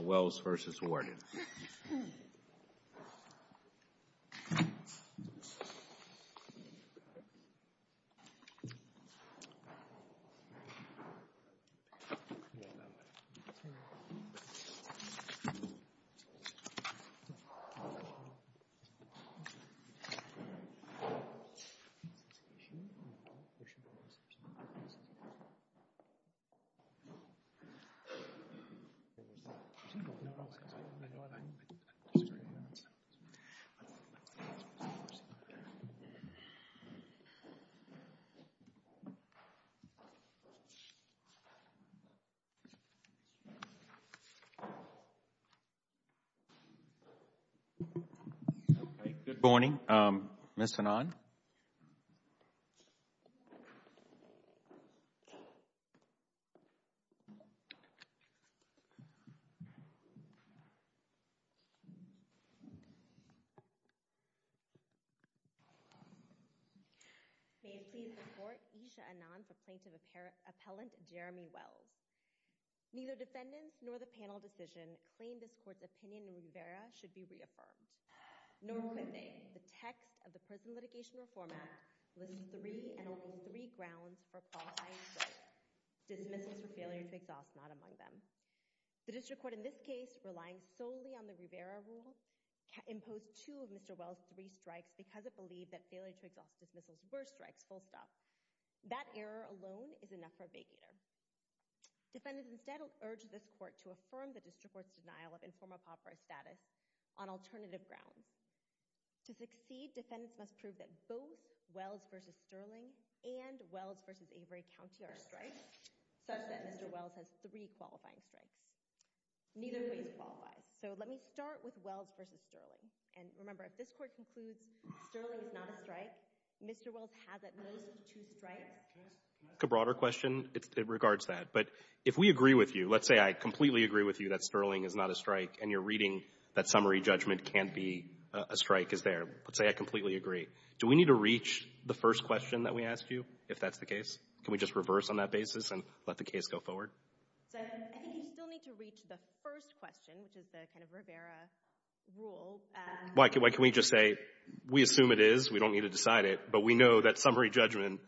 Welles v. Warden Good morning, Ms. Fanon. May it please the Court, Esha Anand, the Plaintiff Appellant, Jeremy Wells. Neither defendants nor the panel decision claim this Court's opinion in Rivera should be reaffirmed. Nor could they. The text of the Prison Litigation Reform Act lists three and only three grounds for qualifying strikes. Dismissals for failure to exhaust, not among them. The District Court, in this case, relying solely on the Rivera rule, imposed two of Mr. Wells' three strikes because it believed that failure to exhaust dismissals were strikes, full stop. That error alone is enough for a vacater. Defendants instead urge this Court to affirm the District Court's denial of informal on alternative grounds. To succeed, defendants must prove that both Wells v. Sterling and Wells v. Avery County are strikes, such that Mr. Wells has three qualifying strikes. Neither of these qualify. So let me start with Wells v. Sterling. And remember, if this Court concludes Sterling is not a strike, Mr. Wells has at most two strikes. Can I ask a broader question? It regards that. But if we agree with you, let's say I completely agree with you that Sterling is not a strike, and you're reading that summary judgment can't be a strike, is there? Let's say I completely agree. Do we need to reach the first question that we asked you, if that's the case? Can we just reverse on that basis and let the case go forward? I think you still need to reach the first question, which is the kind of Rivera rule. Why can we just say we assume it is, we don't need to decide it, but we know that summary So as the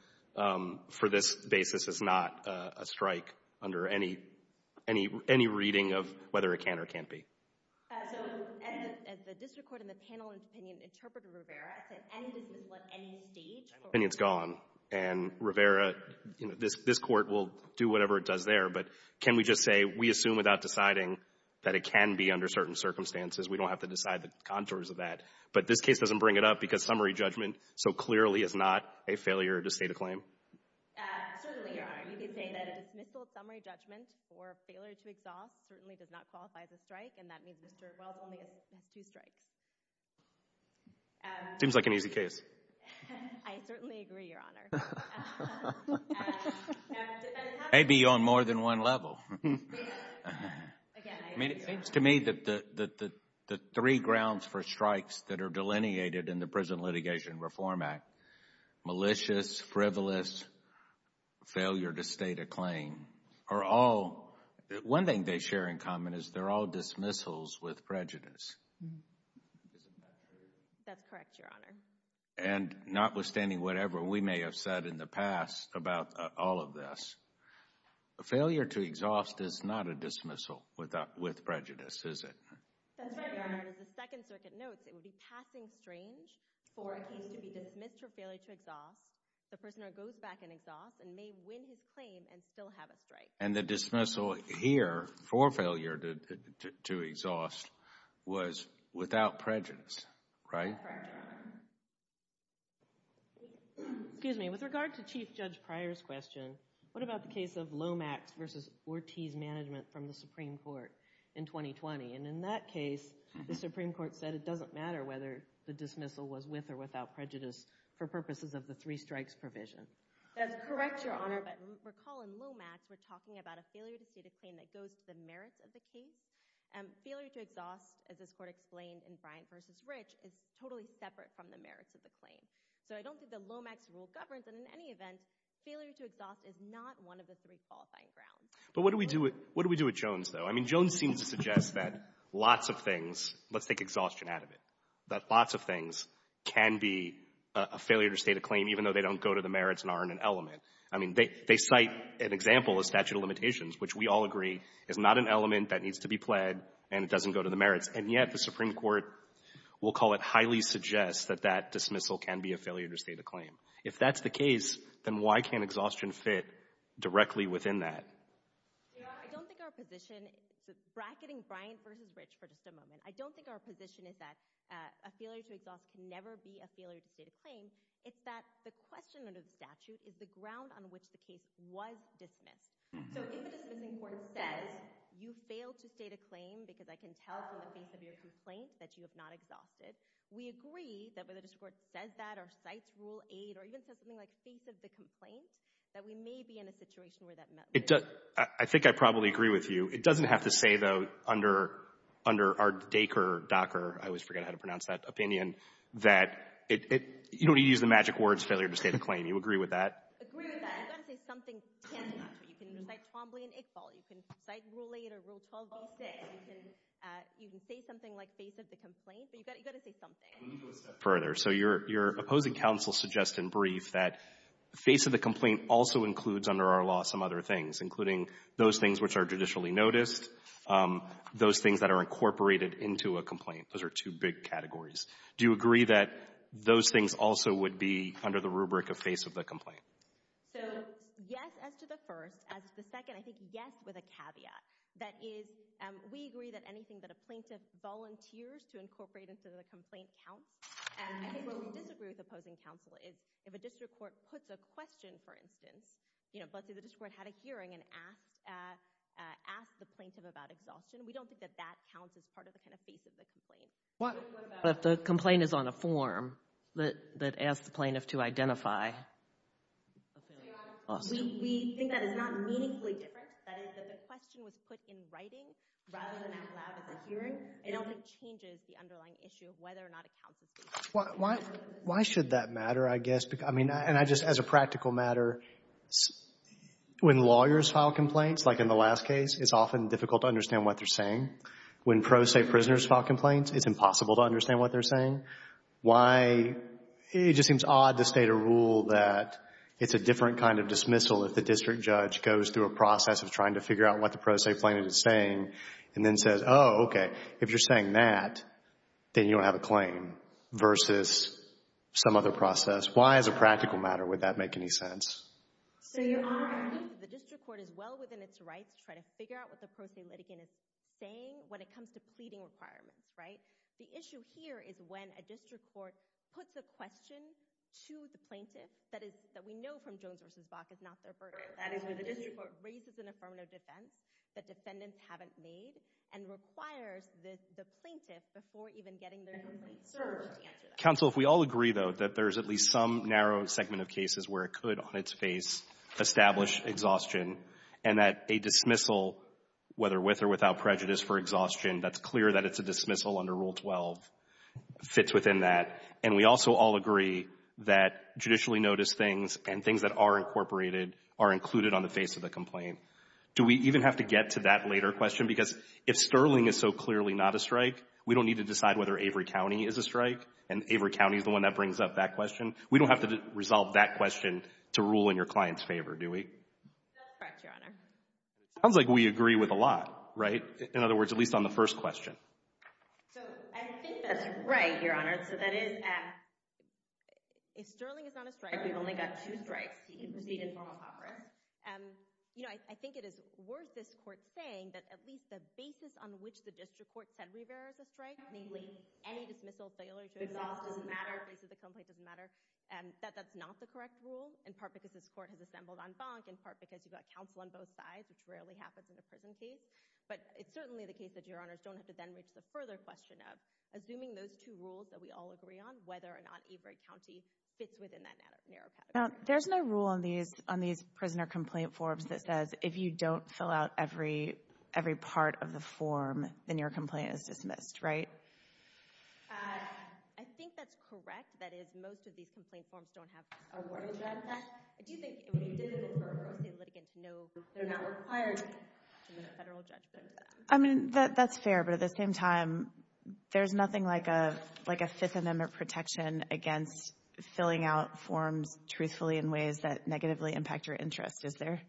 district court in the panel's opinion interpreted Rivera, I said any dismissal at any stage. And it's gone. And Rivera, this Court will do whatever it does there. But can we just say we assume without deciding that it can be under certain circumstances. We don't have to decide the contours of that. But this case doesn't bring it up because summary judgment so clearly is not a failure to state a claim. Certainly, Your Honor. You can say that a dismissal of summary judgment for failure to exhaust certainly does not qualify as a strike. And that means Mr. Wells only has two strikes. Seems like an easy case. I certainly agree, Your Honor. Maybe on more than one level. I mean, it seems to me that the three grounds for strikes that are delineated in the Prison Litigation Reform Act, malicious, frivolous, failure to state a claim, are all, one thing they share in common is they're all dismissals with prejudice. That's correct, Your Honor. And notwithstanding whatever we may have said in the past about all of this, a failure to exhaust is not a dismissal with prejudice, is it? That's right, Your Honor. As the Second Circuit notes, it would be passing strange for a case to be dismissed for failure to exhaust. The prisoner goes back and exhausts and may win his claim and still have a strike. And the dismissal here for failure to exhaust was without prejudice, right? That's correct, Your Honor. Excuse me. With regard to Chief Judge Pryor's question, what about the case of Lomax v. Ortiz management from the Supreme Court in 2020? And in that case, the Supreme Court said it doesn't matter whether the dismissal was with or without prejudice for purposes of the three strikes provision. That's correct, Your Honor. But recall in Lomax, we're talking about a failure to state a claim that goes to the merits of the case. Failure to exhaust, as this Court explained in Bryant v. Rich, is totally separate from the merits of the claim. So I don't think that Lomax rule governs. And in any event, failure to exhaust is not one of the three qualifying grounds. But what do we do with Jones, though? I mean, Jones seems to suggest that lots of things, let's take exhaustion out of it, that lots of things can be a failure to state a claim even though they don't go to the merits and aren't an element. I mean, they cite an example of statute of limitations, which we all agree is not an element that needs to be pled, and it doesn't go to the merits. And yet the Supreme Court will call it highly suggests that that dismissal can be a failure to state a claim. If that's the case, then why can't exhaustion fit directly within that? Your Honor, I don't think our position — bracketing Bryant v. Rich for just a moment — I don't think our position is that a failure to exhaust can never be a failure to state a claim. It's that the question under the statute is the ground on which the case was dismissed. So if a dismissing court says, you failed to state a claim because I can tell from the face of your complaint that you have not exhausted, we agree that whether the district court says that or cites Rule 8 or even says something like, face of the complaint, that we may be in a situation where that — I think I probably agree with you. It doesn't have to say, though, under our Dakar — I always forget how to pronounce that opinion — that it — you don't need to use the magic words, failure to state a claim. You agree with that? I agree with that. You've got to say something tangible. You can cite Twombly and Iqbal. You can cite Rule 8 or Rule 12-6. You can say something like, face of the complaint. But you've got to say something. Let me go a step further. So your opposing counsel suggests in brief that face of the complaint also includes under our law some other things, including those things which are judicially noticed, those things that are incorporated into a complaint. Those are two big categories. Do you agree that those things also would be under the rubric of face of the complaint? So, yes, as to the first. As to the second, I think yes, with a caveat. That is, we agree that anything that a plaintiff volunteers to incorporate into the complaint counts. And I think what we disagree with opposing counsel is if a district court puts a question, for instance, you know, let's say the district court had a hearing and asked the plaintiff about exhaustion. We don't think that that counts as part of the kind of face of the complaint. But if the complaint is on a form that asks the plaintiff to identify a failure of exhaustion. We think that is not meaningfully different. That is, that the question was put in writing rather than out loud at the hearing. It only changes the underlying issue of whether or not it counts as face of the complaint. Why should that matter, I guess? I mean, and I just, as a practical matter, when lawyers file complaints, like in the last case, it's often difficult to understand what they're saying. When pro se prisoners file complaints, it's impossible to understand what they're saying. Why, it just seems odd to state a rule that it's a different kind of dismissal if the district judge goes through a process of trying to figure out what the pro se plaintiff is saying and then says, oh, okay, if you're saying that, then you don't have a claim versus some other process. Why, as a practical matter, would that make any sense? So, Your Honor, I think that the district court is well within its rights to try to figure out what the pro se litigant is saying when it comes to pleading requirements, right? The issue here is when a district court puts a question to the plaintiff that we know from Jones v. Bach is not their burden. That is when the district court raises an affirmative defense that defendants haven't made and requires the plaintiff, before even getting their complaint served, to answer that. Counsel, if we all agree, though, that there is at least some narrow segment of cases where it could, on its face, establish exhaustion, and that a dismissal, whether with or without prejudice for exhaustion, that's clear that it's a dismissal under Rule 12, fits within that. And we also all agree that judicially noticed things and things that are incorporated are included on the face of the complaint. Do we even have to get to that later question? Because if Sterling is so clearly not a strike, we don't need to decide whether Avery County is a strike, and Avery County is the one that brings up that question. We don't have to resolve that question to rule in your client's favor, do we? That's correct, Your Honor. It sounds like we agree with a lot, right? In other words, at least on the first question. So I think that's right, Your Honor. So that is, if Sterling is not a strike, we've only got two strikes. He can proceed in formal conference. You know, I think it is worth this Court saying that at least the basis on which the district court said Avery County is a strike, namely any dismissal, failure to resolve doesn't matter, face of the complaint doesn't matter, that that's not the correct rule, in part because this Court has assembled en banc, in part because you've got counsel on both sides, which rarely happens in a prison case. But it's certainly the case that Your Honors don't have to then reach the further question of assuming those two rules that we all agree on, whether or not Avery County fits within that narrow pattern. There's no rule on these prisoner complaint forms that says if you don't fill out every part of the form, then your complaint is dismissed, right? I think that's correct. That is, most of these complaint forms don't have awardable judgment. I do think it would be difficult for a pro se litigant to know they're not required to make a federal judgment. I mean, that's fair, but at the same time, there's nothing like a Fifth Amendment protection against filling out forms truthfully in ways that negatively impact your interest, is there?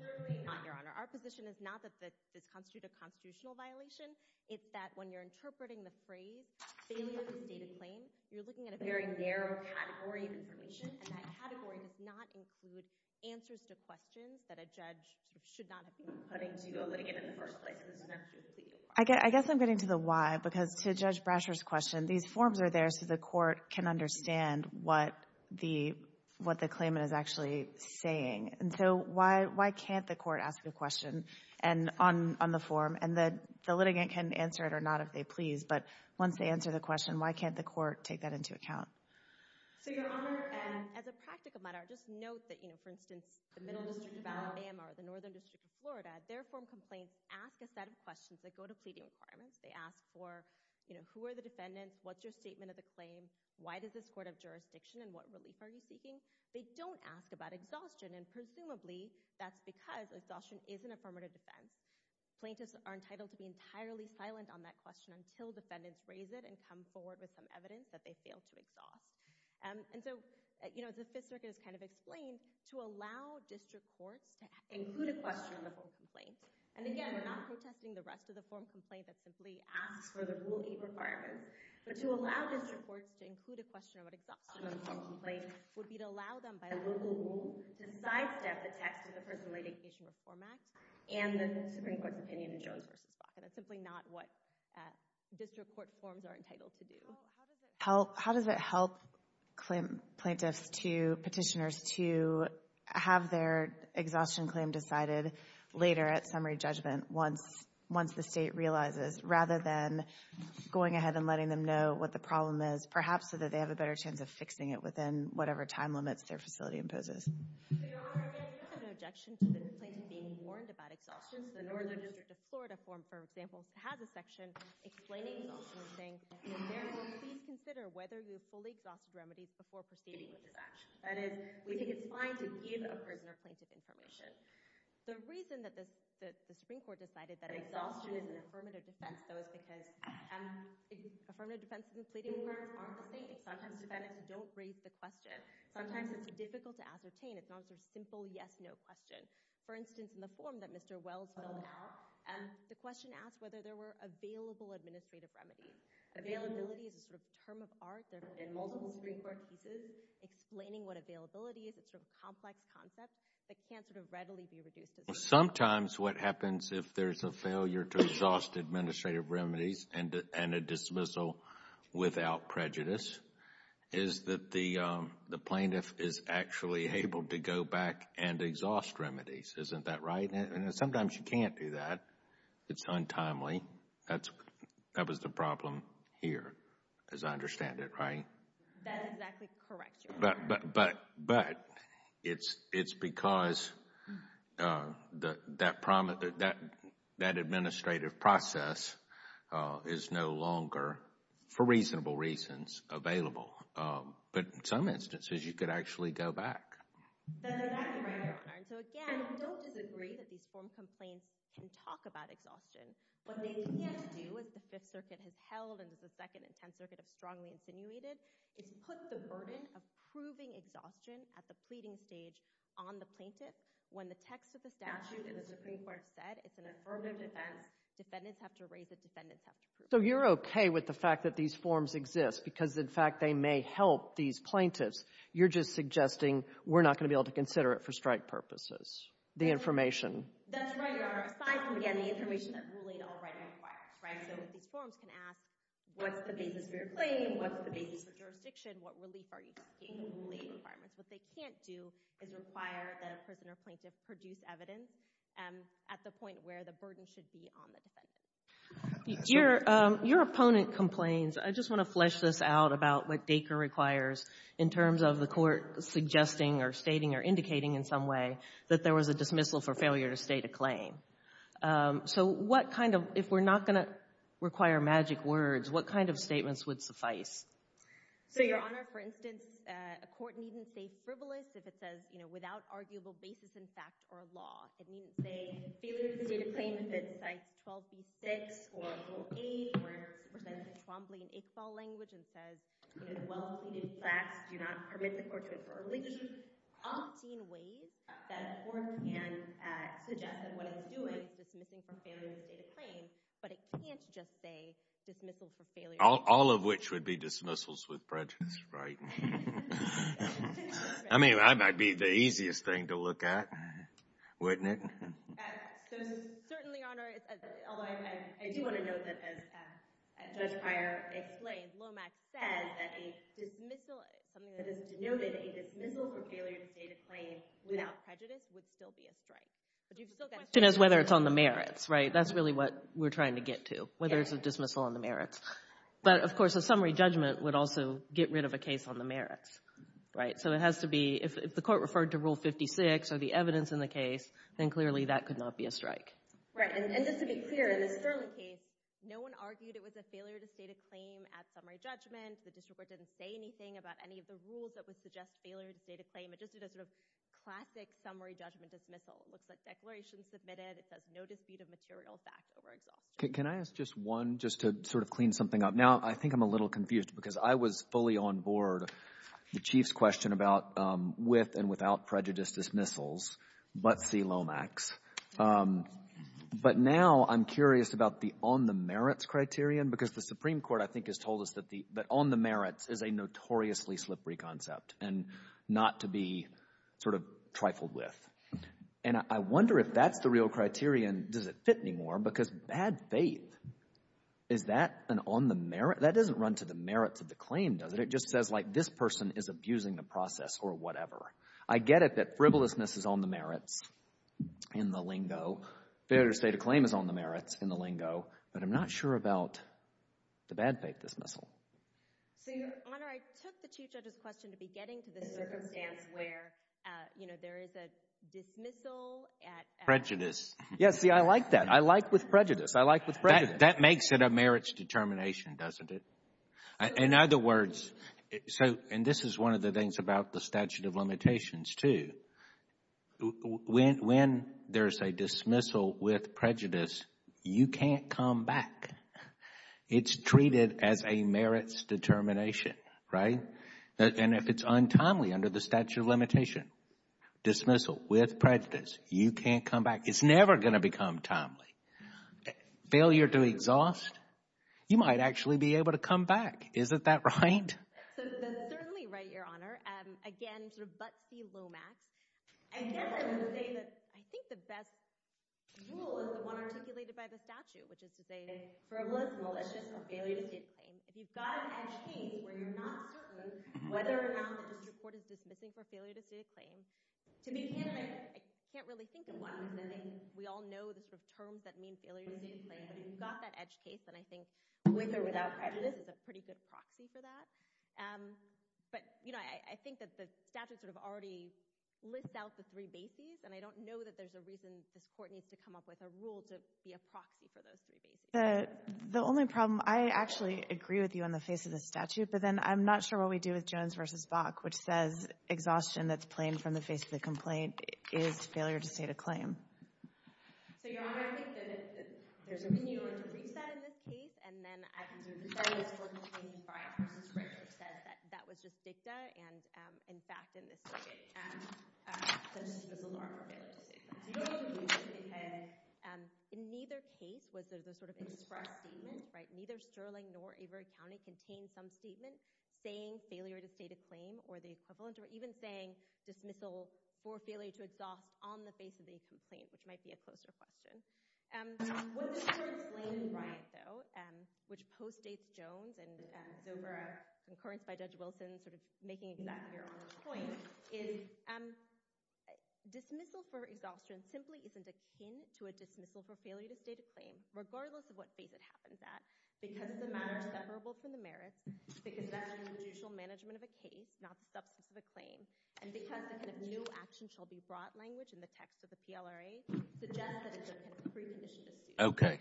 Certainly not, Your Honor. Our position is not that this constitutes a constitutional violation. It's that when you're interpreting the phrase, failure to state a claim, you're looking at a very narrow category of information, and that category does not include answers to questions that a judge should not have been putting to a litigant in the first place. I guess I'm getting to the why, because to Judge Brasher's question, these forms are there so the court can understand what the claimant is actually saying. And so why can't the court ask a question on the form, and the litigant can answer it or not if they please, but once they answer the question, why can't the court take that into account? So, Your Honor, as a practical matter, just note that, for instance, the Middle District of Alabama or the Northern District of Florida, their form complaints ask a set of questions that go to pleading requirements. They ask for who are the defendants, what's your statement of the claim, they don't ask about exhaustion, and presumably that's because exhaustion isn't a formative defense. Plaintiffs are entitled to be entirely silent on that question until defendants raise it and come forward with some evidence that they failed to exhaust. And so, you know, the Fifth Circuit has kind of explained, to allow district courts to include a question on the form complaint, and again, we're not protesting the rest of the form complaint that simply asks for the Rule 8 requirements, but to allow district courts to include a question about exhaustion on the form complaint would be to allow them, by a local rule, to sidestep the text of the Personal Indication Reform Act and the Supreme Court's opinion in Jones v. Bach, and that's simply not what district court forms are entitled to do. How does it help plaintiffs to, petitioners, to have their exhaustion claim decided later at summary judgment once the State realizes, rather than going ahead and letting them know what the problem is, perhaps so that they have a better chance of fixing it within whatever time limits their facility imposes? Your Honor, again, there's no objection to the plaintiff being warned about exhaustion. The Northern District of Florida form, for example, has a section explaining exhaustion and saying, therefore, please consider whether you have fully exhausted remedies before proceeding with this action. That is, we think it's fine to give a prisoner plaintiff information. The reason that the Supreme Court decided that exhaustion is an affirmative defense, though, is because affirmative defense is misleading for a formal state. Sometimes defendants don't raise the question. Sometimes it's difficult to ascertain. It's not a simple yes-no question. For instance, in the form that Mr. Wells filled out, the question asked whether there were available administrative remedies. Availability is a sort of term of art. There have been multiple Supreme Court cases explaining what availability is. It's a sort of complex concept that can't sort of readily be reduced. Sometimes what happens if there's a failure to exhaust administrative remedies and a dismissal without prejudice is that the plaintiff is actually able to go back and exhaust remedies. Isn't that right? And sometimes you can't do that. It's untimely. That was the problem here, as I understand it, right? That is exactly correct, Your Honor. But it's because that administrative process is no longer, for reasonable reasons, available. But in some instances, you could actually go back. That is exactly right, Your Honor. So, again, don't disagree that these form complaints can talk about exhaustion. What they can't do, as the Fifth Circuit has held and as the Second and Tenth Circuits have strongly insinuated, is put the burden of proving exhaustion at the pleading stage on the plaintiff. When the text of the statute in the Supreme Court said it's an affirmative defense, defendants have to raise it, defendants have to prove it. So you're okay with the fact that these forms exist because, in fact, they may help these plaintiffs. You're just suggesting we're not going to be able to consider it for strike purposes, the information. That's right, Your Honor. Aside from, again, the information that ruling already requires, right? So these forms can ask, what's the basis for your claim? What's the basis for jurisdiction? What relief are you seeking? What relief requirements? What they can't do is require that a prisoner plaintiff produce evidence at the point where the burden should be on the defendant. Your opponent complains. I just want to flesh this out about what Dacre requires in terms of the court suggesting or stating or indicating in some way that there was a dismissal for failure to state a claim. So what kind of, if we're not going to require magic words, what kind of statements would suffice? So, Your Honor, for instance, a court needn't say frivolous if it says without arguable basis in fact or law. It needn't say failure to state a claim if it cites 12b-6 or 12a or if it's presented in Trombley and Iqbal language and says, in a well-completed class, do not permit the court to affirmly opt in ways that a court can suggest that what it's doing is dismissing for failure to state a claim, but it can't just say dismissal for failure. All of which would be dismissals with prejudice, right? I mean, that might be the easiest thing to look at, wouldn't it? Certainly, Your Honor, although I do want to note that as Judge Pryor explained, Lomax said that a dismissal, something that is denoted a dismissal for failure to state a claim without prejudice would still be a strike. The question is whether it's on the merits, right? That's really what we're trying to get to, whether it's a dismissal on the merits. But, of course, a summary judgment would also get rid of a case on the merits, right? So it has to be, if the court referred to Rule 56 or the evidence in the case, then clearly that could not be a strike. Right. And just to be clear, in this Sterling case, no one argued it was a failure to state a claim at summary judgment. The district court didn't say anything about any of the rules that would suggest failure to state a claim. It just did a sort of classic summary judgment dismissal. It looks like declarations submitted. It says no dispute of material fact over exhaustion. Can I ask just one, just to sort of clean something up? Now, I think I'm a little confused because I was fully on board the Chief's question about with and without prejudice dismissals, but see Lomax. But now I'm curious about the on the merits criterion because the Supreme Court, I think, has told us that the — that on the merits is a notoriously slippery concept and not to be sort of trifled with. And I wonder if that's the real criterion. Does it fit anymore? Because bad faith, is that an on the merit? That doesn't run to the merits of the claim, does it? It just says, like, this person is abusing the process or whatever. I get it that frivolousness is on the merits in the lingo. Failure to state a claim is on the merits in the lingo. But I'm not sure about the bad faith dismissal. So, Your Honor, I took the two judges' question to be getting to the circumstance where, you know, there is a dismissal at — Prejudice. Yeah, see, I like that. I like with prejudice. I like with prejudice. That makes it a merits determination, doesn't it? In other words, so — and this is one of the things about the statute of limitations, too. When there's a dismissal with prejudice, you can't come back. It's treated as a merits determination, right? And if it's untimely under the statute of limitation, dismissal with prejudice, you can't come back. It's never going to become timely. Failure to exhaust, you might actually be able to come back. Isn't that right? So, that's certainly right, Your Honor. Again, sort of butt-see low-max. I guess I would say that I think the best rule is the one articulated by the statute, which is to say frivolous, malicious, or failure to state a claim. If you've got an edge case where you're not certain whether or not the district court is dismissing for failure to state a claim, to be candid, I can't really think of one. We all know the sort of terms that mean failure to state a claim. But if you've got that edge case, then I think with or without prejudice is a pretty good proxy for that. But, you know, I think that the statute sort of already lists out the three bases, and I don't know that there's a reason this court needs to come up with a rule to be a proxy for those three bases. The only problem — I actually agree with you on the face of the statute, but then I'm not sure what we do with Jones v. Bach, which says exhaustion that's plain from the face of the complaint is failure to state a claim. So, Your Honor, I think that there's a reason you don't want to reach that in this case, and then I can do it. The study that this court contains is Breyer v. Rich, which says that that was just dicta, and, in fact, in this case, there's a law for failure to state a claim. Do you know what the reason is? Because in neither case was there the sort of express statement, right? Neither Sterling nor Avery County contained some statement saying failure to state a claim or the equivalent, or even saying dismissal for failure to exhaust on the face of the complaint, which might be a closer question. What this court explained in Bryant, though, which postdates Jones and Zobar, concurrence by Judge Wilson sort of making that clear on this point, is dismissal for exhaustion simply isn't akin to a dismissal for failure to state a claim, regardless of what phase it happens at, because the matter is separable from the merits, because that's judicial management of a case, not substance of a claim, and because the kind of new action shall be broad language in the text of the PLRA, suggests that it's a precondition to sue. Okay.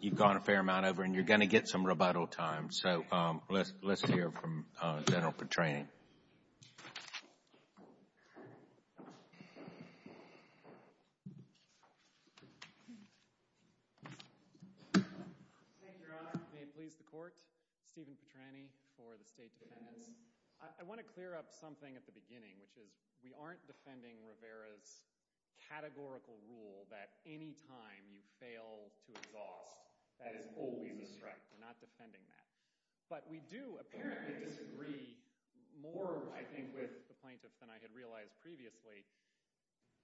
You've gone a fair amount over, and you're going to get some rebuttal time, so let's hear from General Petrain. Thank you, Your Honor. May it please the court, Stephen Petraini for the State Defendants. I want to clear up something at the beginning, which is we aren't defending Rivera's categorical rule that any time you fail to exhaust, that is always a strike. We're not defending that. But we do apparently disagree more, I think, with the plaintiff than I had realized previously.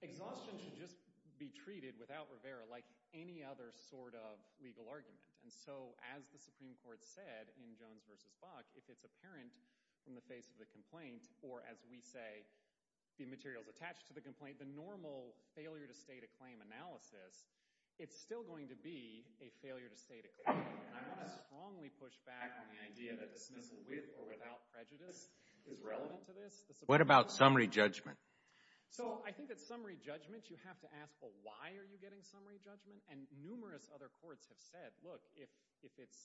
Exhaustion should just be treated without Rivera like any other sort of legal argument. And so as the Supreme Court said in Jones v. Buck, if it's apparent in the face of the complaint, or as we say the materials attached to the complaint, the normal failure to state a claim analysis, it's still going to be a failure to state a claim. And I want to strongly push back on the idea that dismissal with or without prejudice is relevant to this. What about summary judgment? So I think that summary judgment, you have to ask, well, why are you getting summary judgment? And numerous other courts have said, look, if it's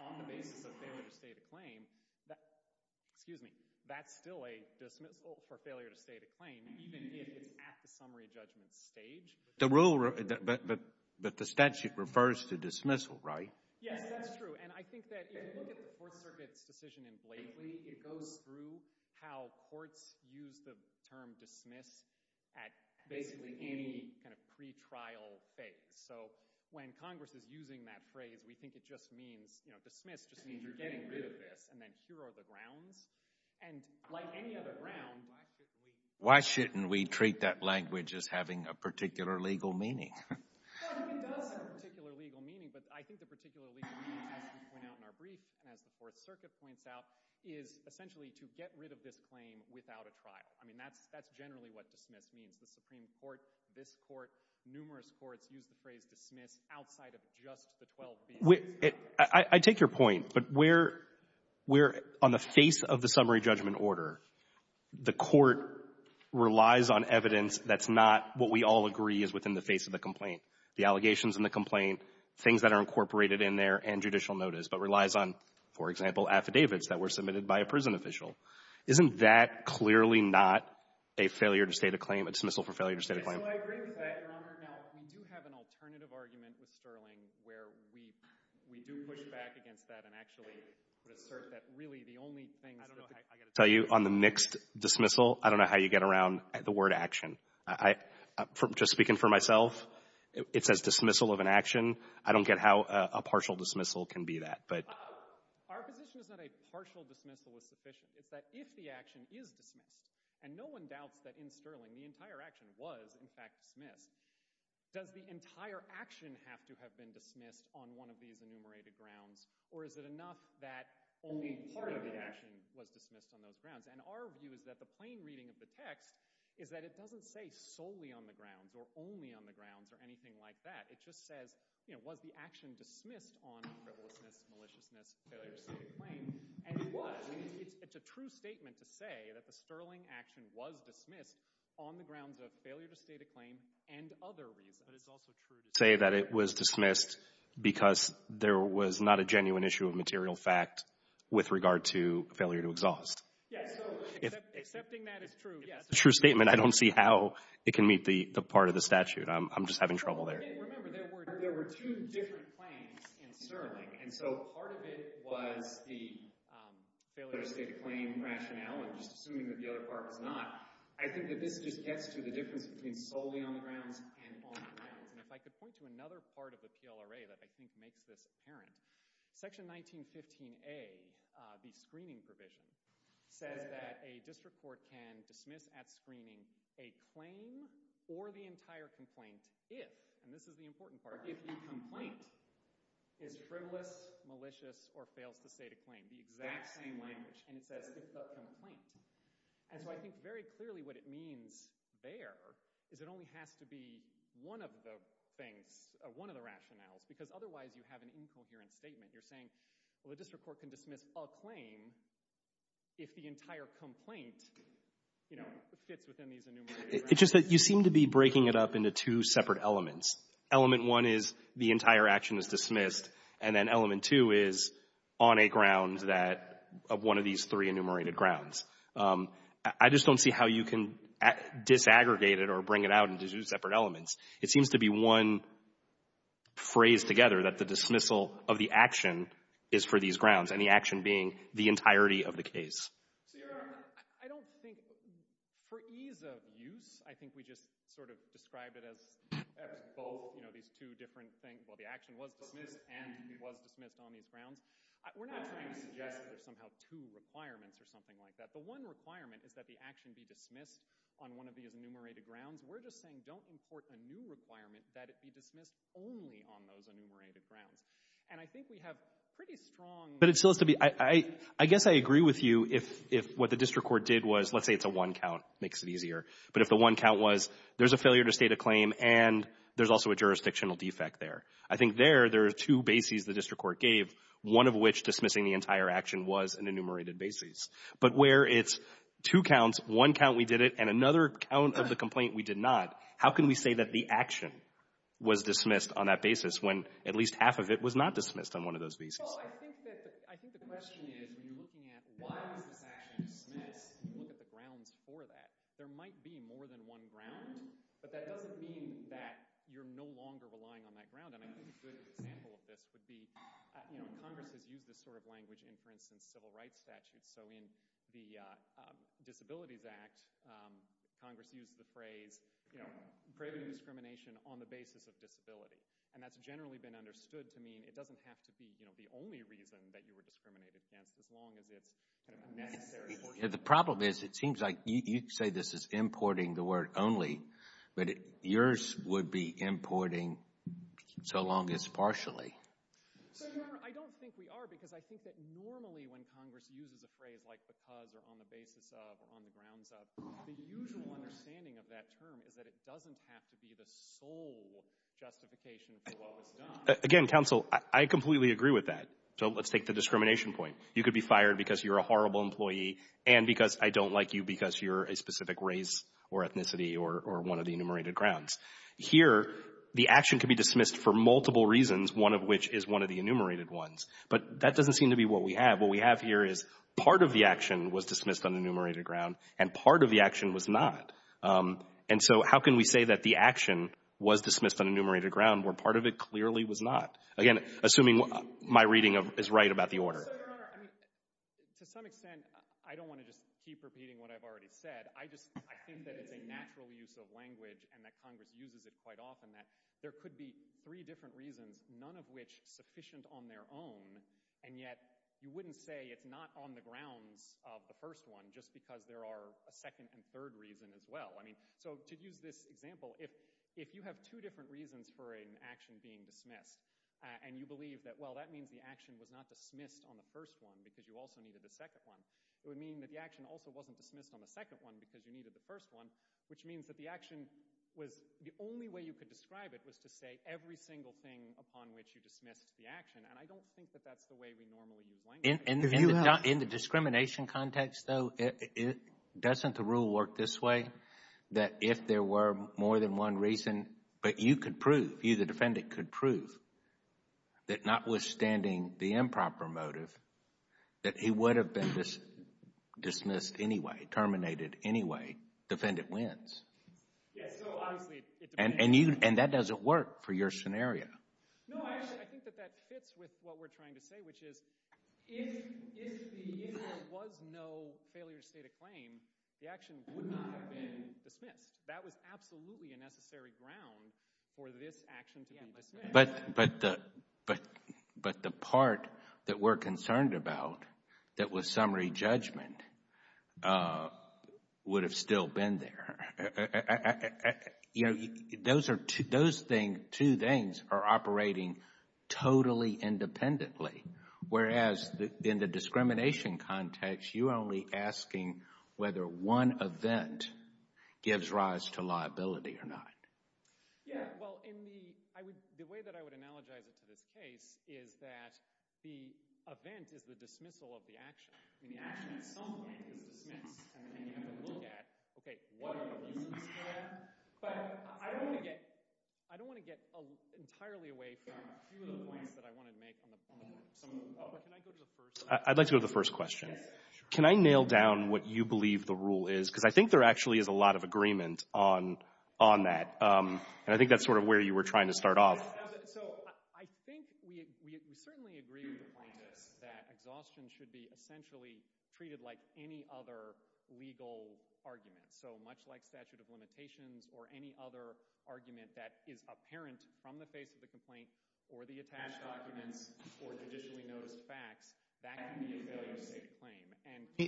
on the basis of failure to state a claim, excuse me, that's still a dismissal for failure to state a claim even if it's at the summary judgment stage. But the statute refers to dismissal, right? Yes, that's true. And I think that if you look at the Fourth Circuit's decision in Blakely, it goes through how courts use the term dismiss at basically any kind of pretrial phase. So when Congress is using that phrase, we think it just means, you know, dismiss just means you're getting rid of this. And then here are the grounds. And like any other ground, why shouldn't we treat that language as having a particular legal meaning? Well, I think it does have a particular legal meaning. But I think the particular legal meaning, as we point out in our brief and as the Fourth Circuit points out, is essentially to get rid of this claim without a trial. I mean, that's generally what dismiss means. The Supreme Court, this Court, numerous courts use the phrase dismiss outside of just the 12 bills. I take your point. But we're on the face of the summary judgment order. The Court relies on evidence that's not what we all agree is within the face of the complaint, the allegations in the complaint, things that are incorporated in there, and judicial notice, but relies on, for example, affidavits that were submitted by a prison official. Isn't that clearly not a failure to state a claim, a dismissal for failure to state a claim? So I agree with that, Your Honor. Now, we do have an alternative argument with Sterling where we do push back against that and actually assert that really the only things that I got to tell you on the mixed dismissal, I don't know how you get around the word action. Just speaking for myself, it says dismissal of an action. I don't get how a partial dismissal can be that. Our position is that a partial dismissal is sufficient. It's that if the action is dismissed, and no one doubts that in Sterling the entire action was in fact dismissed, does the entire action have to have been dismissed on one of these enumerated grounds, or is it enough that only part of the action was dismissed on those grounds? And our view is that the plain reading of the text is that it doesn't say solely on the grounds or only on the grounds or anything like that. It just says, you know, was the action dismissed on frivolousness, maliciousness, failure to state a claim? And it was. It's a true statement to say that the Sterling action was dismissed on the grounds of failure to state a claim and other reasons. Say that it was dismissed because there was not a genuine issue of material fact with regard to failure to exhaust. Yes. Accepting that is true. It's a true statement. I don't see how it can meet the part of the statute. I'm just having trouble there. Remember, there were two different claims in Sterling, and so part of it was the failure to state a claim rationale and just assuming that the other part was not. I think that this just gets to the difference between solely on the grounds and on the grounds. And if I could point to another part of the PLRA that I think makes this apparent, Section 1915A, the screening provision, says that a district court can dismiss at screening a claim or the entire complaint if, and this is the important part, if the complaint is frivolous, malicious, or fails to state a claim. The exact same language. And it says, if the complaint. And so I think very clearly what it means there is it only has to be one of the things, one of the rationales, because otherwise you have an incoherent statement. You're saying, well, the district court can dismiss a claim if the entire complaint, you know, you seem to be breaking it up into two separate elements. Element one is the entire action is dismissed, and then element two is on a ground that of one of these three enumerated grounds. I just don't see how you can disaggregate it or bring it out into two separate elements. It seems to be one phrase together that the dismissal of the action is for these grounds and the action being the entirety of the case. I don't think, for ease of use, I think we just sort of describe it as both, you know, these two different things. Well, the action was dismissed and it was dismissed on these grounds. We're not trying to suggest that there's somehow two requirements or something like that. The one requirement is that the action be dismissed on one of these enumerated grounds. We're just saying don't import a new requirement that it be dismissed only on those enumerated grounds. And I think we have pretty strong. But it still has to be. I guess I agree with you if what the district court did was, let's say it's a one count, makes it easier, but if the one count was there's a failure to state a claim and there's also a jurisdictional defect there. I think there, there are two bases the district court gave, one of which dismissing the entire action was an enumerated basis. But where it's two counts, one count we did it, and another count of the complaint we did not, how can we say that the action was dismissed on that basis when at least half of it was not dismissed on one of those bases? Well, I think that, I think the question is when you're looking at why was this action dismissed and you look at the grounds for that, there might be more than one ground, but that doesn't mean that you're no longer relying on that ground. And I think a good example of this would be, you know, Congress has used this sort of language in, for instance, civil rights statutes. So in the Disabilities Act, Congress used the phrase, you know, craving discrimination on the basis of disability. And that's generally been understood to mean it doesn't have to be, you know, the only reason that you were discriminated against as long as it's kind of necessary for you. The problem is it seems like you say this is importing the word only, but yours would be importing so long as partially. So, Your Honor, I don't think we are because I think that normally when Congress uses a phrase like because or on the basis of or on the grounds of, the usual understanding of that term is that it doesn't have to be the sole justification for what was done. Again, counsel, I completely agree with that. So let's take the discrimination point. You could be fired because you're a horrible employee and because I don't like you because you're a specific race or ethnicity or one of the enumerated grounds. Here, the action could be dismissed for multiple reasons, one of which is one of the enumerated ones. But that doesn't seem to be what we have. What we have here is part of the action was dismissed on the enumerated ground and part of the action was not. And so how can we say that the action was dismissed on enumerated ground where part of it clearly was not? Again, assuming my reading is right about the order. But, Your Honor, to some extent, I don't want to just keep repeating what I've already said. I just think that it's a natural use of language and that Congress uses it quite often that there could be three different reasons, none of which sufficient on their own, and yet you wouldn't say it's not on the grounds of the first one just because there are a second and third reason as well. So to use this example, if you have two different reasons for an action being dismissed and you believe that, well, that means the action was not dismissed on the first one because you also needed the second one, it would mean that the action also wasn't dismissed on the second one because you needed the first one, which means that the action was the only way you could describe it was to say every single thing upon which you dismissed the action. And I don't think that that's the way we normally use language. In the discrimination context, though, doesn't the rule work this way, that if there were more than one reason, but you could prove, you the defendant could prove, that notwithstanding the improper motive, that he would have been dismissed anyway, terminated anyway, defendant wins? Yes, so obviously it depends. And that doesn't work for your scenario. No, I think that that fits with what we're trying to say, which is if there was no failure to state a claim, the action would not have been dismissed. That was absolutely a necessary ground for this action to be dismissed. But the part that we're concerned about that was summary judgment would have still been there. You know, those two things are operating totally independently, whereas in the discrimination context, you're only asking whether one event gives rise to liability or not. Yeah, well, the way that I would analogize it to this case is that the event is the dismissal of the action. I mean, the action at some point is dismissed, and you have to look at, okay, what are the reasons for that? But I don't want to get entirely away from a few of the points that I wanted to make on some of them. Can I go to the first one? I'd like to go to the first question. Yes, sure. Can I nail down what you believe the rule is? Because I think there actually is a lot of agreement on that, and I think that's sort of where you were trying to start off. I think we certainly agree with the plaintiffs that exhaustion should be essentially treated like any other legal argument. So much like statute of limitations or any other argument that is apparent from the face of the complaint or the attached documents or traditionally noticed facts, that can be a failure to state a claim.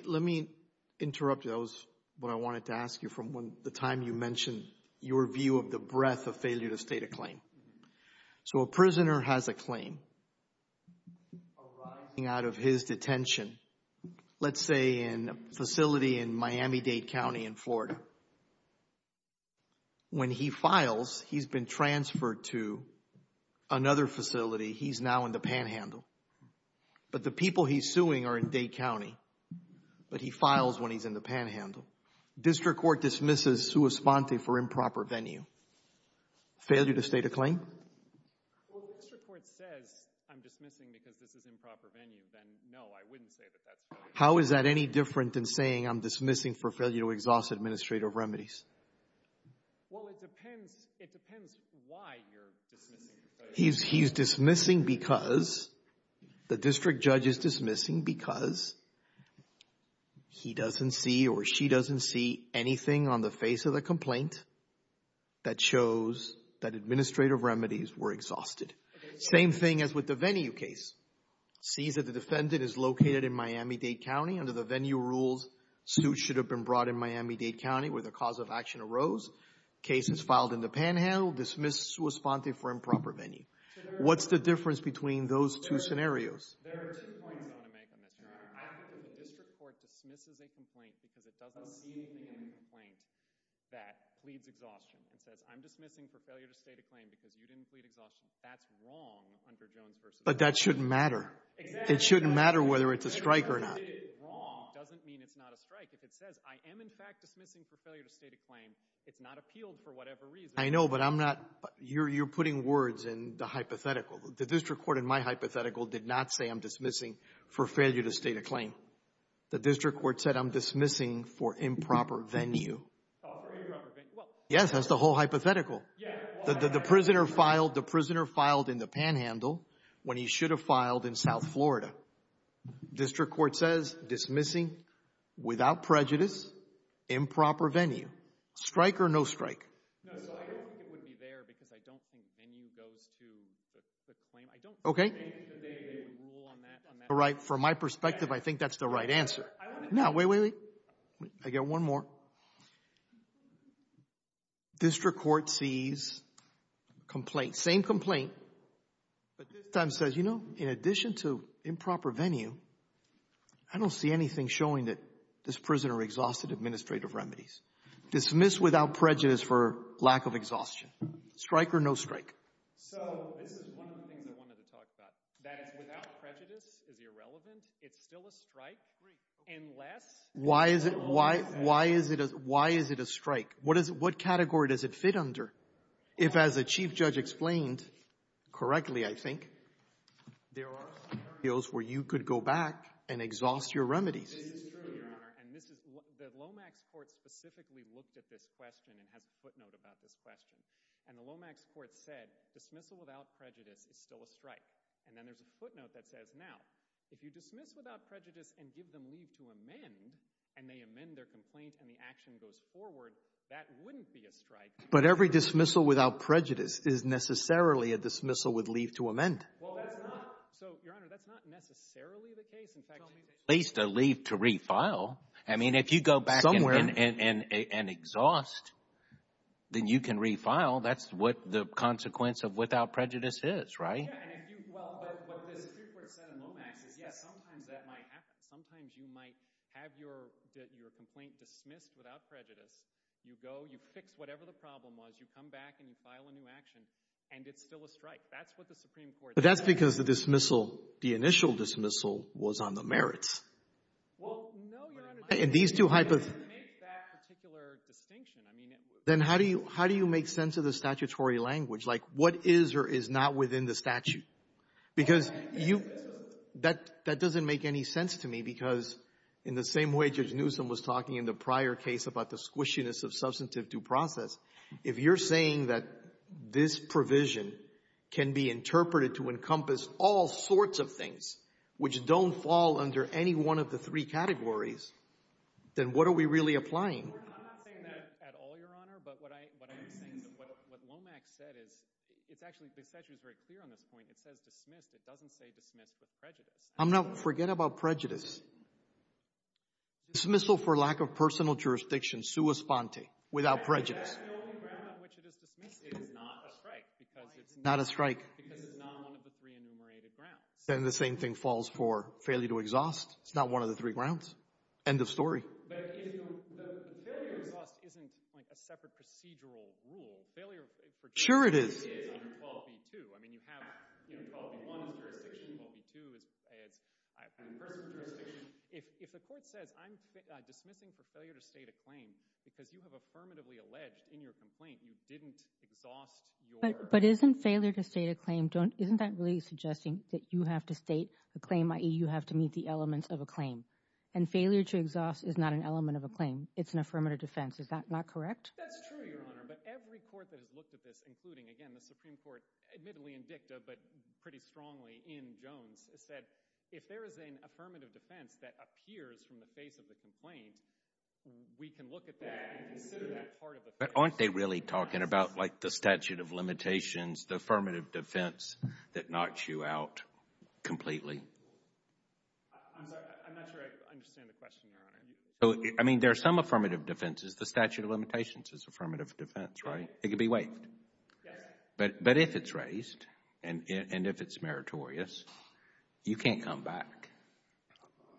Let me interrupt you. That was what I wanted to ask you from the time you mentioned your view of the breadth of failure to state a claim. So a prisoner has a claim arising out of his detention, let's say in a facility in Miami-Dade County in Florida. When he files, he's been transferred to another facility. He's now in the panhandle. But the people he's suing are in Dade County, but he files when he's in the panhandle. District court dismisses sua sponte for improper venue. Failure to state a claim? Well, if the district court says I'm dismissing because this is improper venue, then no, I wouldn't say that that's failure. How is that any different than saying I'm dismissing for failure to exhaust administrative remedies? Well, it depends why you're dismissing. He's dismissing because the district judge is dismissing because he doesn't see or she doesn't see anything on the face of the complaint that shows that administrative remedies were exhausted. Same thing as with the venue case. Sees that the defendant is located in Miami-Dade County. Under the venue rules, suit should have been brought in Miami-Dade County where the cause of action arose. Case is filed in the panhandle, dismissed sua sponte for improper venue. What's the difference between those two scenarios? There are two points I want to make on this, Your Honor. I think that the district court dismisses a complaint because it doesn't see anything in the complaint that pleads exhaustion and says I'm dismissing for failure to state a claim because you didn't plead exhaustion. That's wrong under Jones v. Davis. But that shouldn't matter. It shouldn't matter whether it's a strike or not. If it's wrong doesn't mean it's not a strike. If it says I am in fact dismissing for failure to state a claim, it's not appealed for whatever reason. I know, but I'm not. You're putting words in the hypothetical. The district court in my hypothetical did not say I'm dismissing for failure to state a claim. The district court said I'm dismissing for improper venue. Yes, that's the whole hypothetical. The prisoner filed in the panhandle when he should have filed in South Florida. District court says dismissing without prejudice, improper venue. Strike or no strike? No, so I don't think it would be there because I don't think venue goes to the claim. I don't think that they would rule on that. From my perspective, I think that's the right answer. No, wait, wait, wait. I got one more. District court sees complaint, same complaint, but this time says, you know, in addition to improper venue, I don't see anything showing that this prisoner exhausted administrative remedies. Dismiss without prejudice for lack of exhaustion. Strike or no strike? So this is one of the things I wanted to talk about. That is, without prejudice is irrelevant. It's still a strike. Great. Why is it a strike? What category does it fit under? If, as the Chief Judge explained correctly, I think, there are some areas where you could go back and exhaust your remedies. This is true, Your Honor. And the Lomax court specifically looked at this question and has a footnote about this question. And the Lomax court said dismissal without prejudice is still a strike. And then there's a footnote that says, now, if you dismiss without prejudice and give them leave to amend, and they amend their complaint and the action goes forward, that wouldn't be a strike. But every dismissal without prejudice is necessarily a dismissal with leave to amend. Well, that's not. So, Your Honor, that's not necessarily the case. At least a leave to refile. I mean, if you go back and exhaust, then you can refile. That's what the consequence of without prejudice is, right? Well, what the Supreme Court said in Lomax is, yes, sometimes that might happen. Sometimes you might have your complaint dismissed without prejudice. You go, you fix whatever the problem was, you come back and you file a new action, and it's still a strike. That's what the Supreme Court said. But that's because the dismissal, the initial dismissal, was on the merits. Well, no, Your Honor. And these two hypotheses. I didn't make that particular distinction. I mean, it was. Then how do you make sense of the statutory language? Like, what is or is not within the statute? Because you — that doesn't make any sense to me, because in the same way Judge Newsom was talking in the prior case about the squishiness of substantive due process, if you're saying that this provision can be interpreted to encompass all sorts of things which don't fall under any one of the three categories, then what are we really applying? I'm not saying that at all, Your Honor. But what I'm saying is that what Lomax said is — it's actually — the statute is very clear on this point. It says dismissed. It doesn't say dismissed with prejudice. Forget about prejudice. Dismissal for lack of personal jurisdiction, sua sponte, without prejudice. That's the only ground on which it is dismissed. It is not a strike. It's not a strike. Because it's not one of the three enumerated grounds. Then the same thing falls for failure to exhaust. It's not one of the three grounds. End of story. But the failure to exhaust isn't, like, a separate procedural rule. Failure — Sure it is. It's under 12b-2. I mean, you have — you know, 12b-1 is jurisdiction, 12b-2 is — If the court says I'm dismissing for failure to state a claim because you have affirmatively alleged in your complaint you didn't exhaust your — But isn't failure to state a claim — isn't that really suggesting that you have to state a claim, i.e., you have to meet the elements of a claim? And failure to exhaust is not an element of a claim. It's an affirmative defense. Is that not correct? That's true, Your Honor. But every court that has looked at this, including, again, the Supreme Court, admittedly in dicta but pretty strongly in Jones, has said if there is an affirmative defense that appears from the face of the complaint, we can look at that and consider that part of the — But aren't they really talking about, like, the statute of limitations, the affirmative defense that knocks you out completely? I'm sorry. I'm not sure I understand the question, Your Honor. So, I mean, there are some affirmative defenses. The statute of limitations is affirmative defense, right? It can be waived. Yes. But if it's raised and if it's meritorious, you can't come back.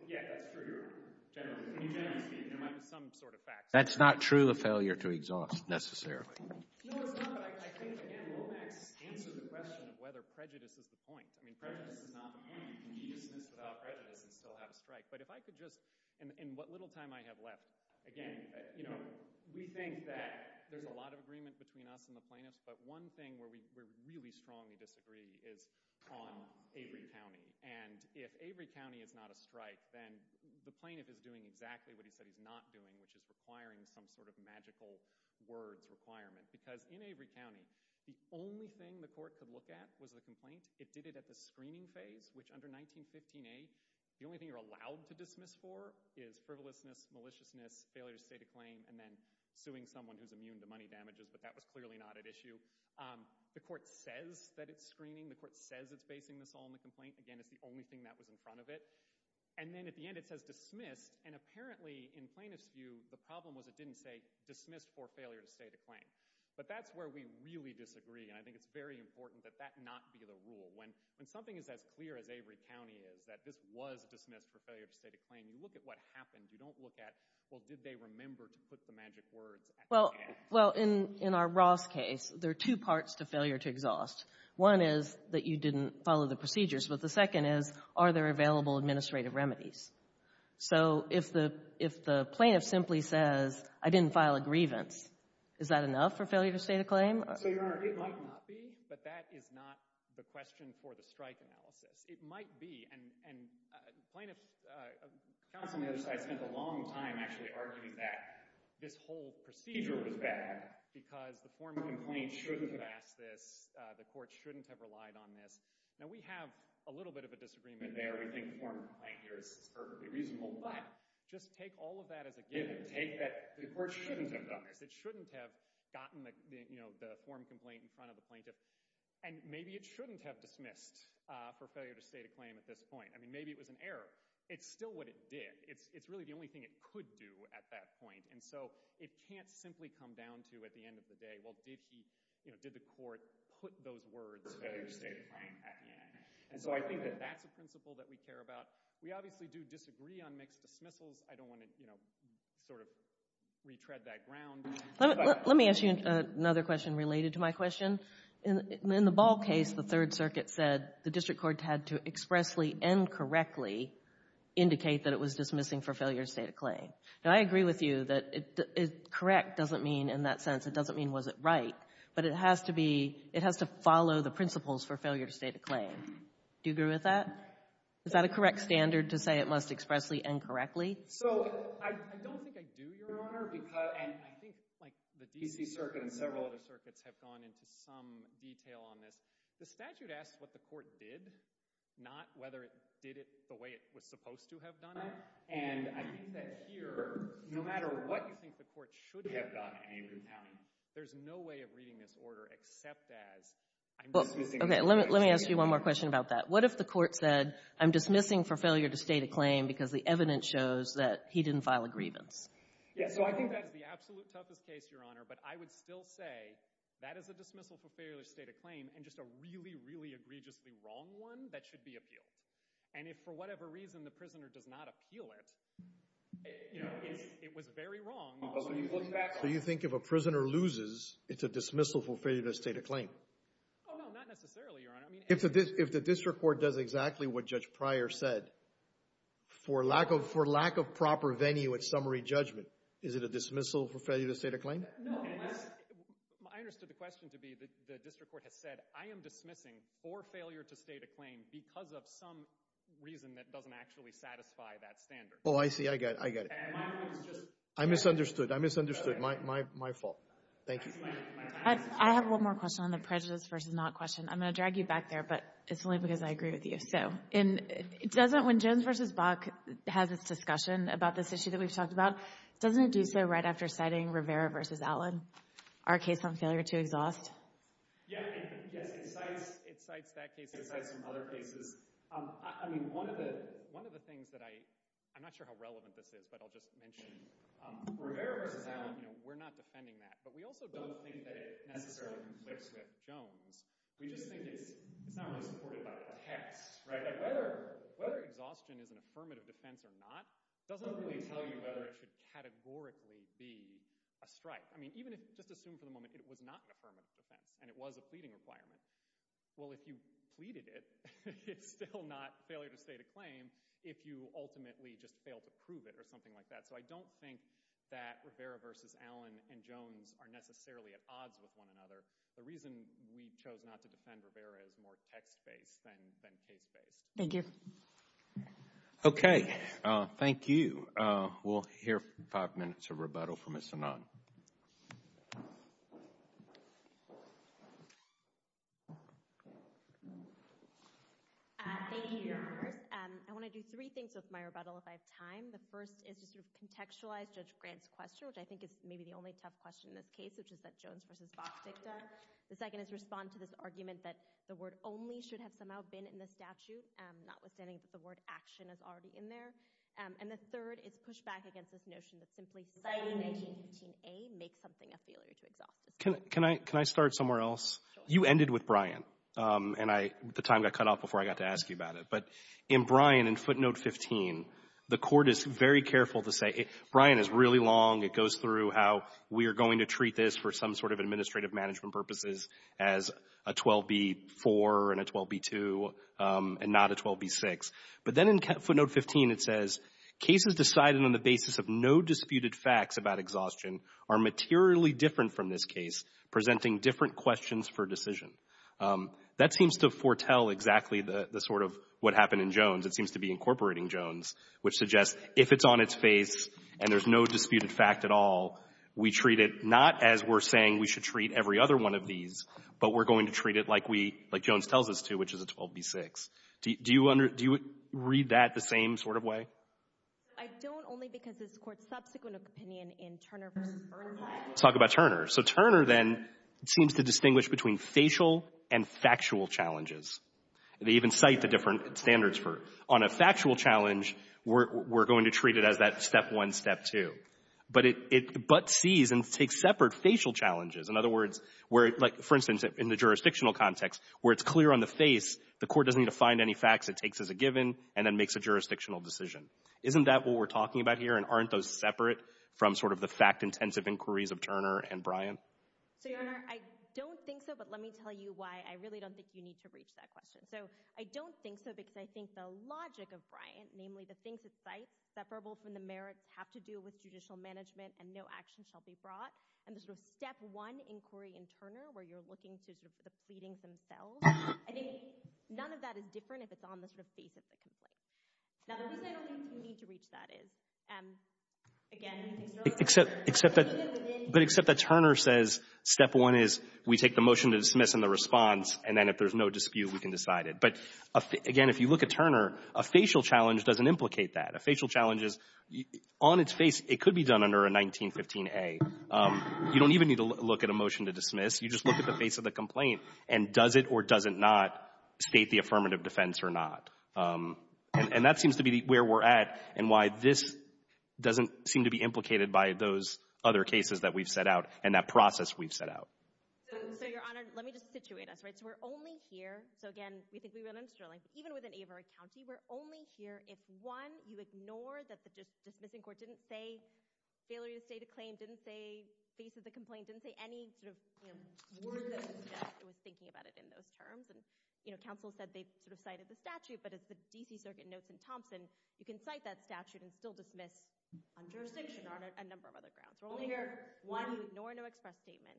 Yeah, that's true, Your Honor, generally. I mean, generally speaking, there might be some sort of facts there. That's not true of failure to exhaust necessarily. No, it's not, but I think, again, Lomax answered the question of whether prejudice is the point. I mean, prejudice is not the point. You can be dismissed without prejudice and still have a strike. But if I could just, in what little time I have left, again, you know, we think that there's a lot of agreement between us and the plaintiffs. But one thing where we really strongly disagree is on Avery County. And if Avery County is not a strike, then the plaintiff is doing exactly what he said he's not doing, which is requiring some sort of magical words requirement. Because in Avery County, the only thing the court could look at was the complaint. It did it at the screening phase, which under 1915A, the only thing you're allowed to dismiss for is frivolousness, maliciousness, failure to state a claim, and then suing someone who's immune to money damages. But that was clearly not at issue. The court says that it's screening. The court says it's basing this all on the complaint. Again, it's the only thing that was in front of it. And then at the end, it says dismissed. And apparently, in plaintiffs' view, the problem was it didn't say dismissed for failure to state a claim. But that's where we really disagree. And I think it's very important that that not be the rule. When something is as clear as Avery County is, that this was dismissed for failure to state a claim, you look at what happened. You don't look at, well, did they remember to put the magic words at the end? Well, in our Ross case, there are two parts to failure to exhaust. One is that you didn't follow the procedures. But the second is, are there available administrative remedies? So if the plaintiff simply says, I didn't file a grievance, is that enough for failure to state a claim? So, Your Honor, it might not be. But that is not the question for the strike analysis. It might be. And counsel on the other side spent a long time actually arguing that this whole procedure was bad because the formal complaint shouldn't have asked this. The court shouldn't have relied on this. Now, we have a little bit of a disagreement there. We think the formal complaint here is perfectly reasonable. But just take all of that as a given. Take that the court shouldn't have done this. It shouldn't have gotten the formal complaint in front of the plaintiff. And maybe it shouldn't have dismissed for failure to state a claim at this point. I mean, maybe it was an error. It's still what it did. It's really the only thing it could do at that point. And so it can't simply come down to at the end of the day, well, did the court put those words for failure to state a claim at the end? And so I think that that's a principle that we care about. We obviously do disagree on mixed dismissals. I don't want to, you know, sort of retread that ground. Let me ask you another question related to my question. In the Ball case, the Third Circuit said the district court had to expressly and correctly indicate that it was dismissing for failure to state a claim. Now, I agree with you that correct doesn't mean in that sense, it doesn't mean was it right. But it has to be — it has to follow the principles for failure to state a claim. Do you agree with that? Is that a correct standard to say it must expressly and correctly? So, I don't think I do, Your Honor. And I think, like, the D.C. Circuit and several other circuits have gone into some detail on this. The statute asks what the court did, not whether it did it the way it was supposed to have done it. And I think that here, no matter what you think the court should have done in England County, there's no way of reading this order except as I'm dismissing — Okay. Let me ask you one more question about that. What if the court said, I'm dismissing for failure to state a claim because the evidence shows that he didn't file a grievance? Yeah, so I think that is the absolute toughest case, Your Honor. But I would still say that is a dismissal for failure to state a claim and just a really, really egregiously wrong one that should be appealed. And if for whatever reason the prisoner does not appeal it, you know, it was very wrong. So you think if a prisoner loses, it's a dismissal for failure to state a claim? Oh, no, not necessarily, Your Honor. If the district court does exactly what Judge Pryor said, for lack of proper venue at summary judgment, is it a dismissal for failure to state a claim? No. I understood the question to be the district court has said, I am dismissing for failure to state a claim because of some reason that doesn't actually satisfy that standard. Oh, I see. I get it. I misunderstood. I misunderstood. My fault. Thank you. I have one more question on the prejudice versus not question. I'm going to drag you back there, but it's only because I agree with you. So when Jones v. Bach has this discussion about this issue that we've talked about, doesn't it do so right after citing Rivera v. Allen, our case on failure to exhaust? Yes, it cites that case. It cites some other cases. I mean, one of the things that I'm not sure how relevant this is, but I'll just mention, Rivera v. Allen, you know, we're not defending that. But we also don't think that it necessarily conflicts with Jones. We just think it's not really supported by the text, right? Whether exhaustion is an affirmative defense or not doesn't really tell you whether it should categorically be a strike. I mean, even if, just assume for the moment, it was not an affirmative defense and it was a pleading requirement. Well, if you pleaded it, it's still not failure to state a claim if you ultimately just fail to prove it or something like that. So I don't think that Rivera v. Allen and Jones are necessarily at odds with one another. The reason we chose not to defend Rivera is more text-based than case-based. Thank you. Okay, thank you. We'll hear five minutes of rebuttal from Ms. Sinan. Thank you, Your Honors. I want to do three things with my rebuttal if I have time. The first is to sort of contextualize Judge Grant's question, which I think is maybe the only tough question in this case, which is that Jones v. Fox dicta. The second is to respond to this argument that the word only should have somehow been in the statute, notwithstanding that the word action is already in there. And the third is pushback against this notion that simply citing 1915a makes something a failure to exhaust. Can I start somewhere else? Sure. You ended with Bryant, and the time got cut off before I got to ask you about it. But in Bryant, in footnote 15, the Court is very careful to say Bryant is really long. It goes through how we are going to treat this for some sort of administrative management purposes as a 12b-4 and a 12b-2 and not a 12b-6. But then in footnote 15, it says, cases decided on the basis of no disputed facts about exhaustion are materially different from this case, presenting different questions for decision. That seems to foretell exactly the sort of what happened in Jones. It seems to be incorporating Jones, which suggests if it's on its face and there's no disputed fact at all, we treat it not as we're saying we should treat every other one of these, but we're going to treat it like we — like Jones tells us to, which is a 12b-6. Do you read that the same sort of way? I don't, only because this Court's subsequent opinion in Turner v. Burnham. Let's talk about Turner. So Turner, then, seems to distinguish between facial and factual challenges. They even cite the different standards for it. On a factual challenge, we're going to treat it as that step one, step two. But it but sees and takes separate facial challenges. In other words, where, like, for instance, in the jurisdictional context, where it's clear on the face, the Court doesn't need to find any facts. It takes as a given and then makes a jurisdictional decision. Isn't that what we're talking about here? And aren't those separate from sort of the fact-intensive inquiries of Turner and Bryant? So, Your Honor, I don't think so, but let me tell you why I really don't think you need to reach that question. So, I don't think so because I think the logic of Bryant, namely the things that cite, separable from the merits, have to do with judicial management and no action shall be brought. And the sort of step one inquiry in Turner, where you're looking to sort of the pleadings themselves, I think none of that is different if it's on the sort of face of the complaint. Now, the reason I don't think you need to reach that is, again, things are a little different. But except that Turner says step one is we take the motion to dismiss and the response, and then if there's no dispute, we can decide it. But, again, if you look at Turner, a facial challenge doesn't implicate that. A facial challenge is, on its face, it could be done under a 1915A. You don't even need to look at a motion to dismiss. You just look at the face of the complaint and does it or does it not state the affirmative defense or not. And that seems to be where we're at and why this doesn't seem to be implicated by those other cases that we've set out and that process we've set out. So, Your Honor, let me just situate us. Right? So we're only here. So, again, we think we run on Sterling. Even within Averitt County, we're only here if, one, you ignore that the dismissing court didn't say failure to state a claim, didn't say face of the complaint, didn't say any sort of word that the judge was thinking about it in those terms. And, you know, counsel said they sort of cited the statute, but as the D.C. Circuit notes in Thompson, you can cite that statute and still dismiss on jurisdiction or on a number of other grounds. We're only here, one, you ignore no express statement.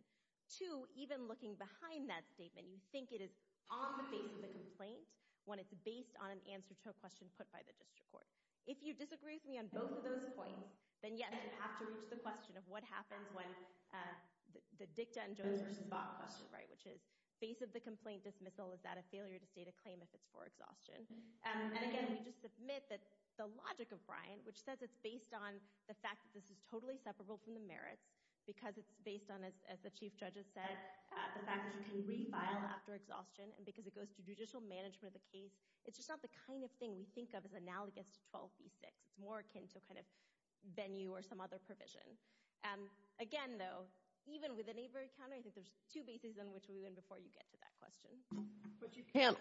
Two, even looking behind that statement, you think it is on the face of the complaint when it's based on an answer to a question put by the district court. If you disagree with me on both of those points, then, yes, you have to reach the question of what happens when the dicta and Jones versus Bob question, right, which is face of the complaint dismissal. Is that a failure to state a claim if it's for exhaustion? And, again, we just submit that the logic of Bryan, which says it's based on the fact that this is totally separable from the merits because it's based on, as the Chief Judge has said, the fact that you can refile after exhaustion and because it goes to judicial management of the case, it's just not the kind of thing we think of as analogous to 12B6. It's more akin to a kind of venue or some other provision. Again, though, even within Averitt County, I think there's two bases on which we would include before you get to that question. But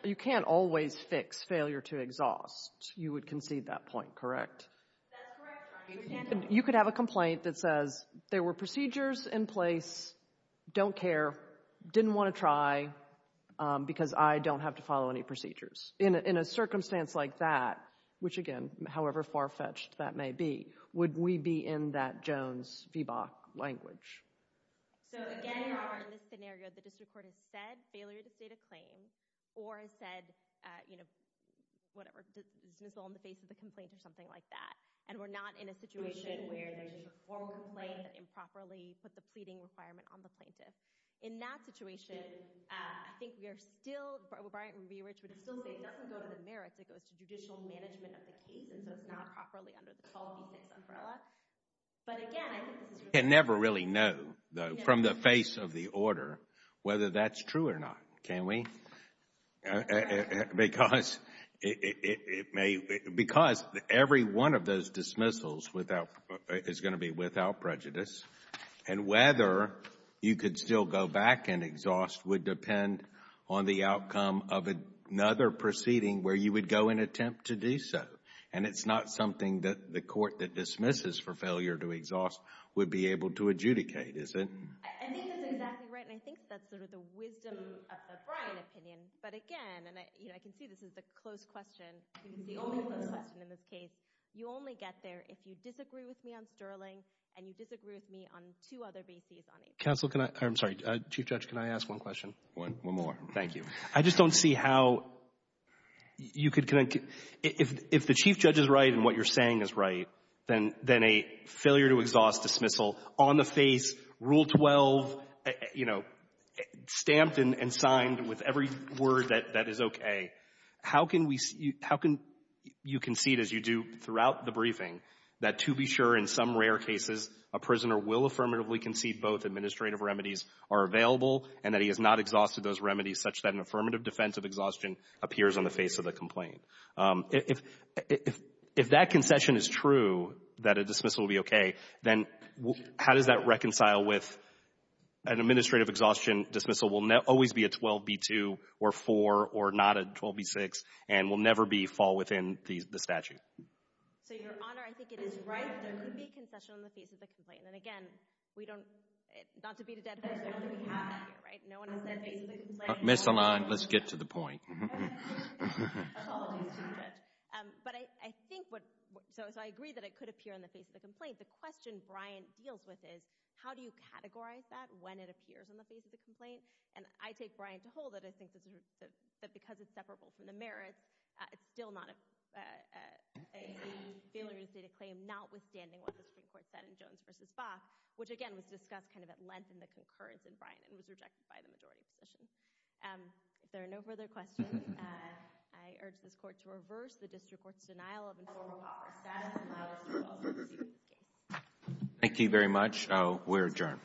you can't always fix failure to exhaust. You would concede that point, correct? That's correct. You could have a complaint that says there were procedures in place, don't care, didn't want to try because I don't have to follow any procedures. In a circumstance like that, which, again, however far-fetched that may be, would we be in that Jones v. Bach language? Again, in this scenario, the district court has said failure to state a claim or has said, whatever, dismissal on the basis of the complaint or something like that, and we're not in a situation where there's a formal complaint that improperly put the pleading requirement on the plaintiff. In that situation, I think we are still – Bryant v. Rich would still say it doesn't go to the merits. It goes to judicial management of the case, and so it's not properly under the 12B6 umbrella. But, again, I think this is – You can never really know, though, from the face of the order, whether that's true or not, can we? Because it may – because every one of those dismissals is going to be without prejudice, and whether you could still go back and exhaust would depend on the outcome of another proceeding where you would go and attempt to do so. And it's not something that the court that dismisses for failure to exhaust would be able to adjudicate, is it? I think that's exactly right, and I think that's sort of the wisdom of the Bryant opinion. But, again, and I can see this is the closed question, the only closed question in this case. You only get there if you disagree with me on Sterling and you disagree with me on two other bases on HR. Counsel, can I – I'm sorry. Chief Judge, can I ask one question? One more. Thank you. I just don't see how you could – if the Chief Judge is right and what you're saying is right, then a failure to exhaust dismissal on the face, Rule 12, you know, stamped and signed with every word that is okay, how can we – how can you concede, as you do throughout the briefing, that to be sure in some rare cases a prisoner will affirmatively concede both administrative remedies are available and that he has not exhausted those remedies such that an affirmative defense of exhaustion appears on the face of the complaint? If that concession is true, that a dismissal will be okay, then how does that reconcile with an administrative exhaustion dismissal will always be a 12B2 or 4 or not a 12B6 and will never be – fall within the statute? So, Your Honor, I think it is right that there could be a concession on the face of the complaint. And, again, we don't – not to beat a dead horse, I don't think we have that here, right? No one has said face of the complaint. Miss the line. Let's get to the point. Apologies, Chief Judge. But I think what – so I agree that it could appear on the face of the complaint. The question Bryant deals with is how do you categorize that when it appears on the face of the complaint? And I take Bryant to hold that I think that because it's separable from the merits, it's still not a failure to state a claim notwithstanding what the Supreme Court spoke, which, again, was discussed kind of at length in the concurrence in Bryant and was rejected by the majority position. If there are no further questions, I urge this Court to reverse the district court's denial of informal proper status and allow us to resolve this case. Thank you very much. We're adjourned.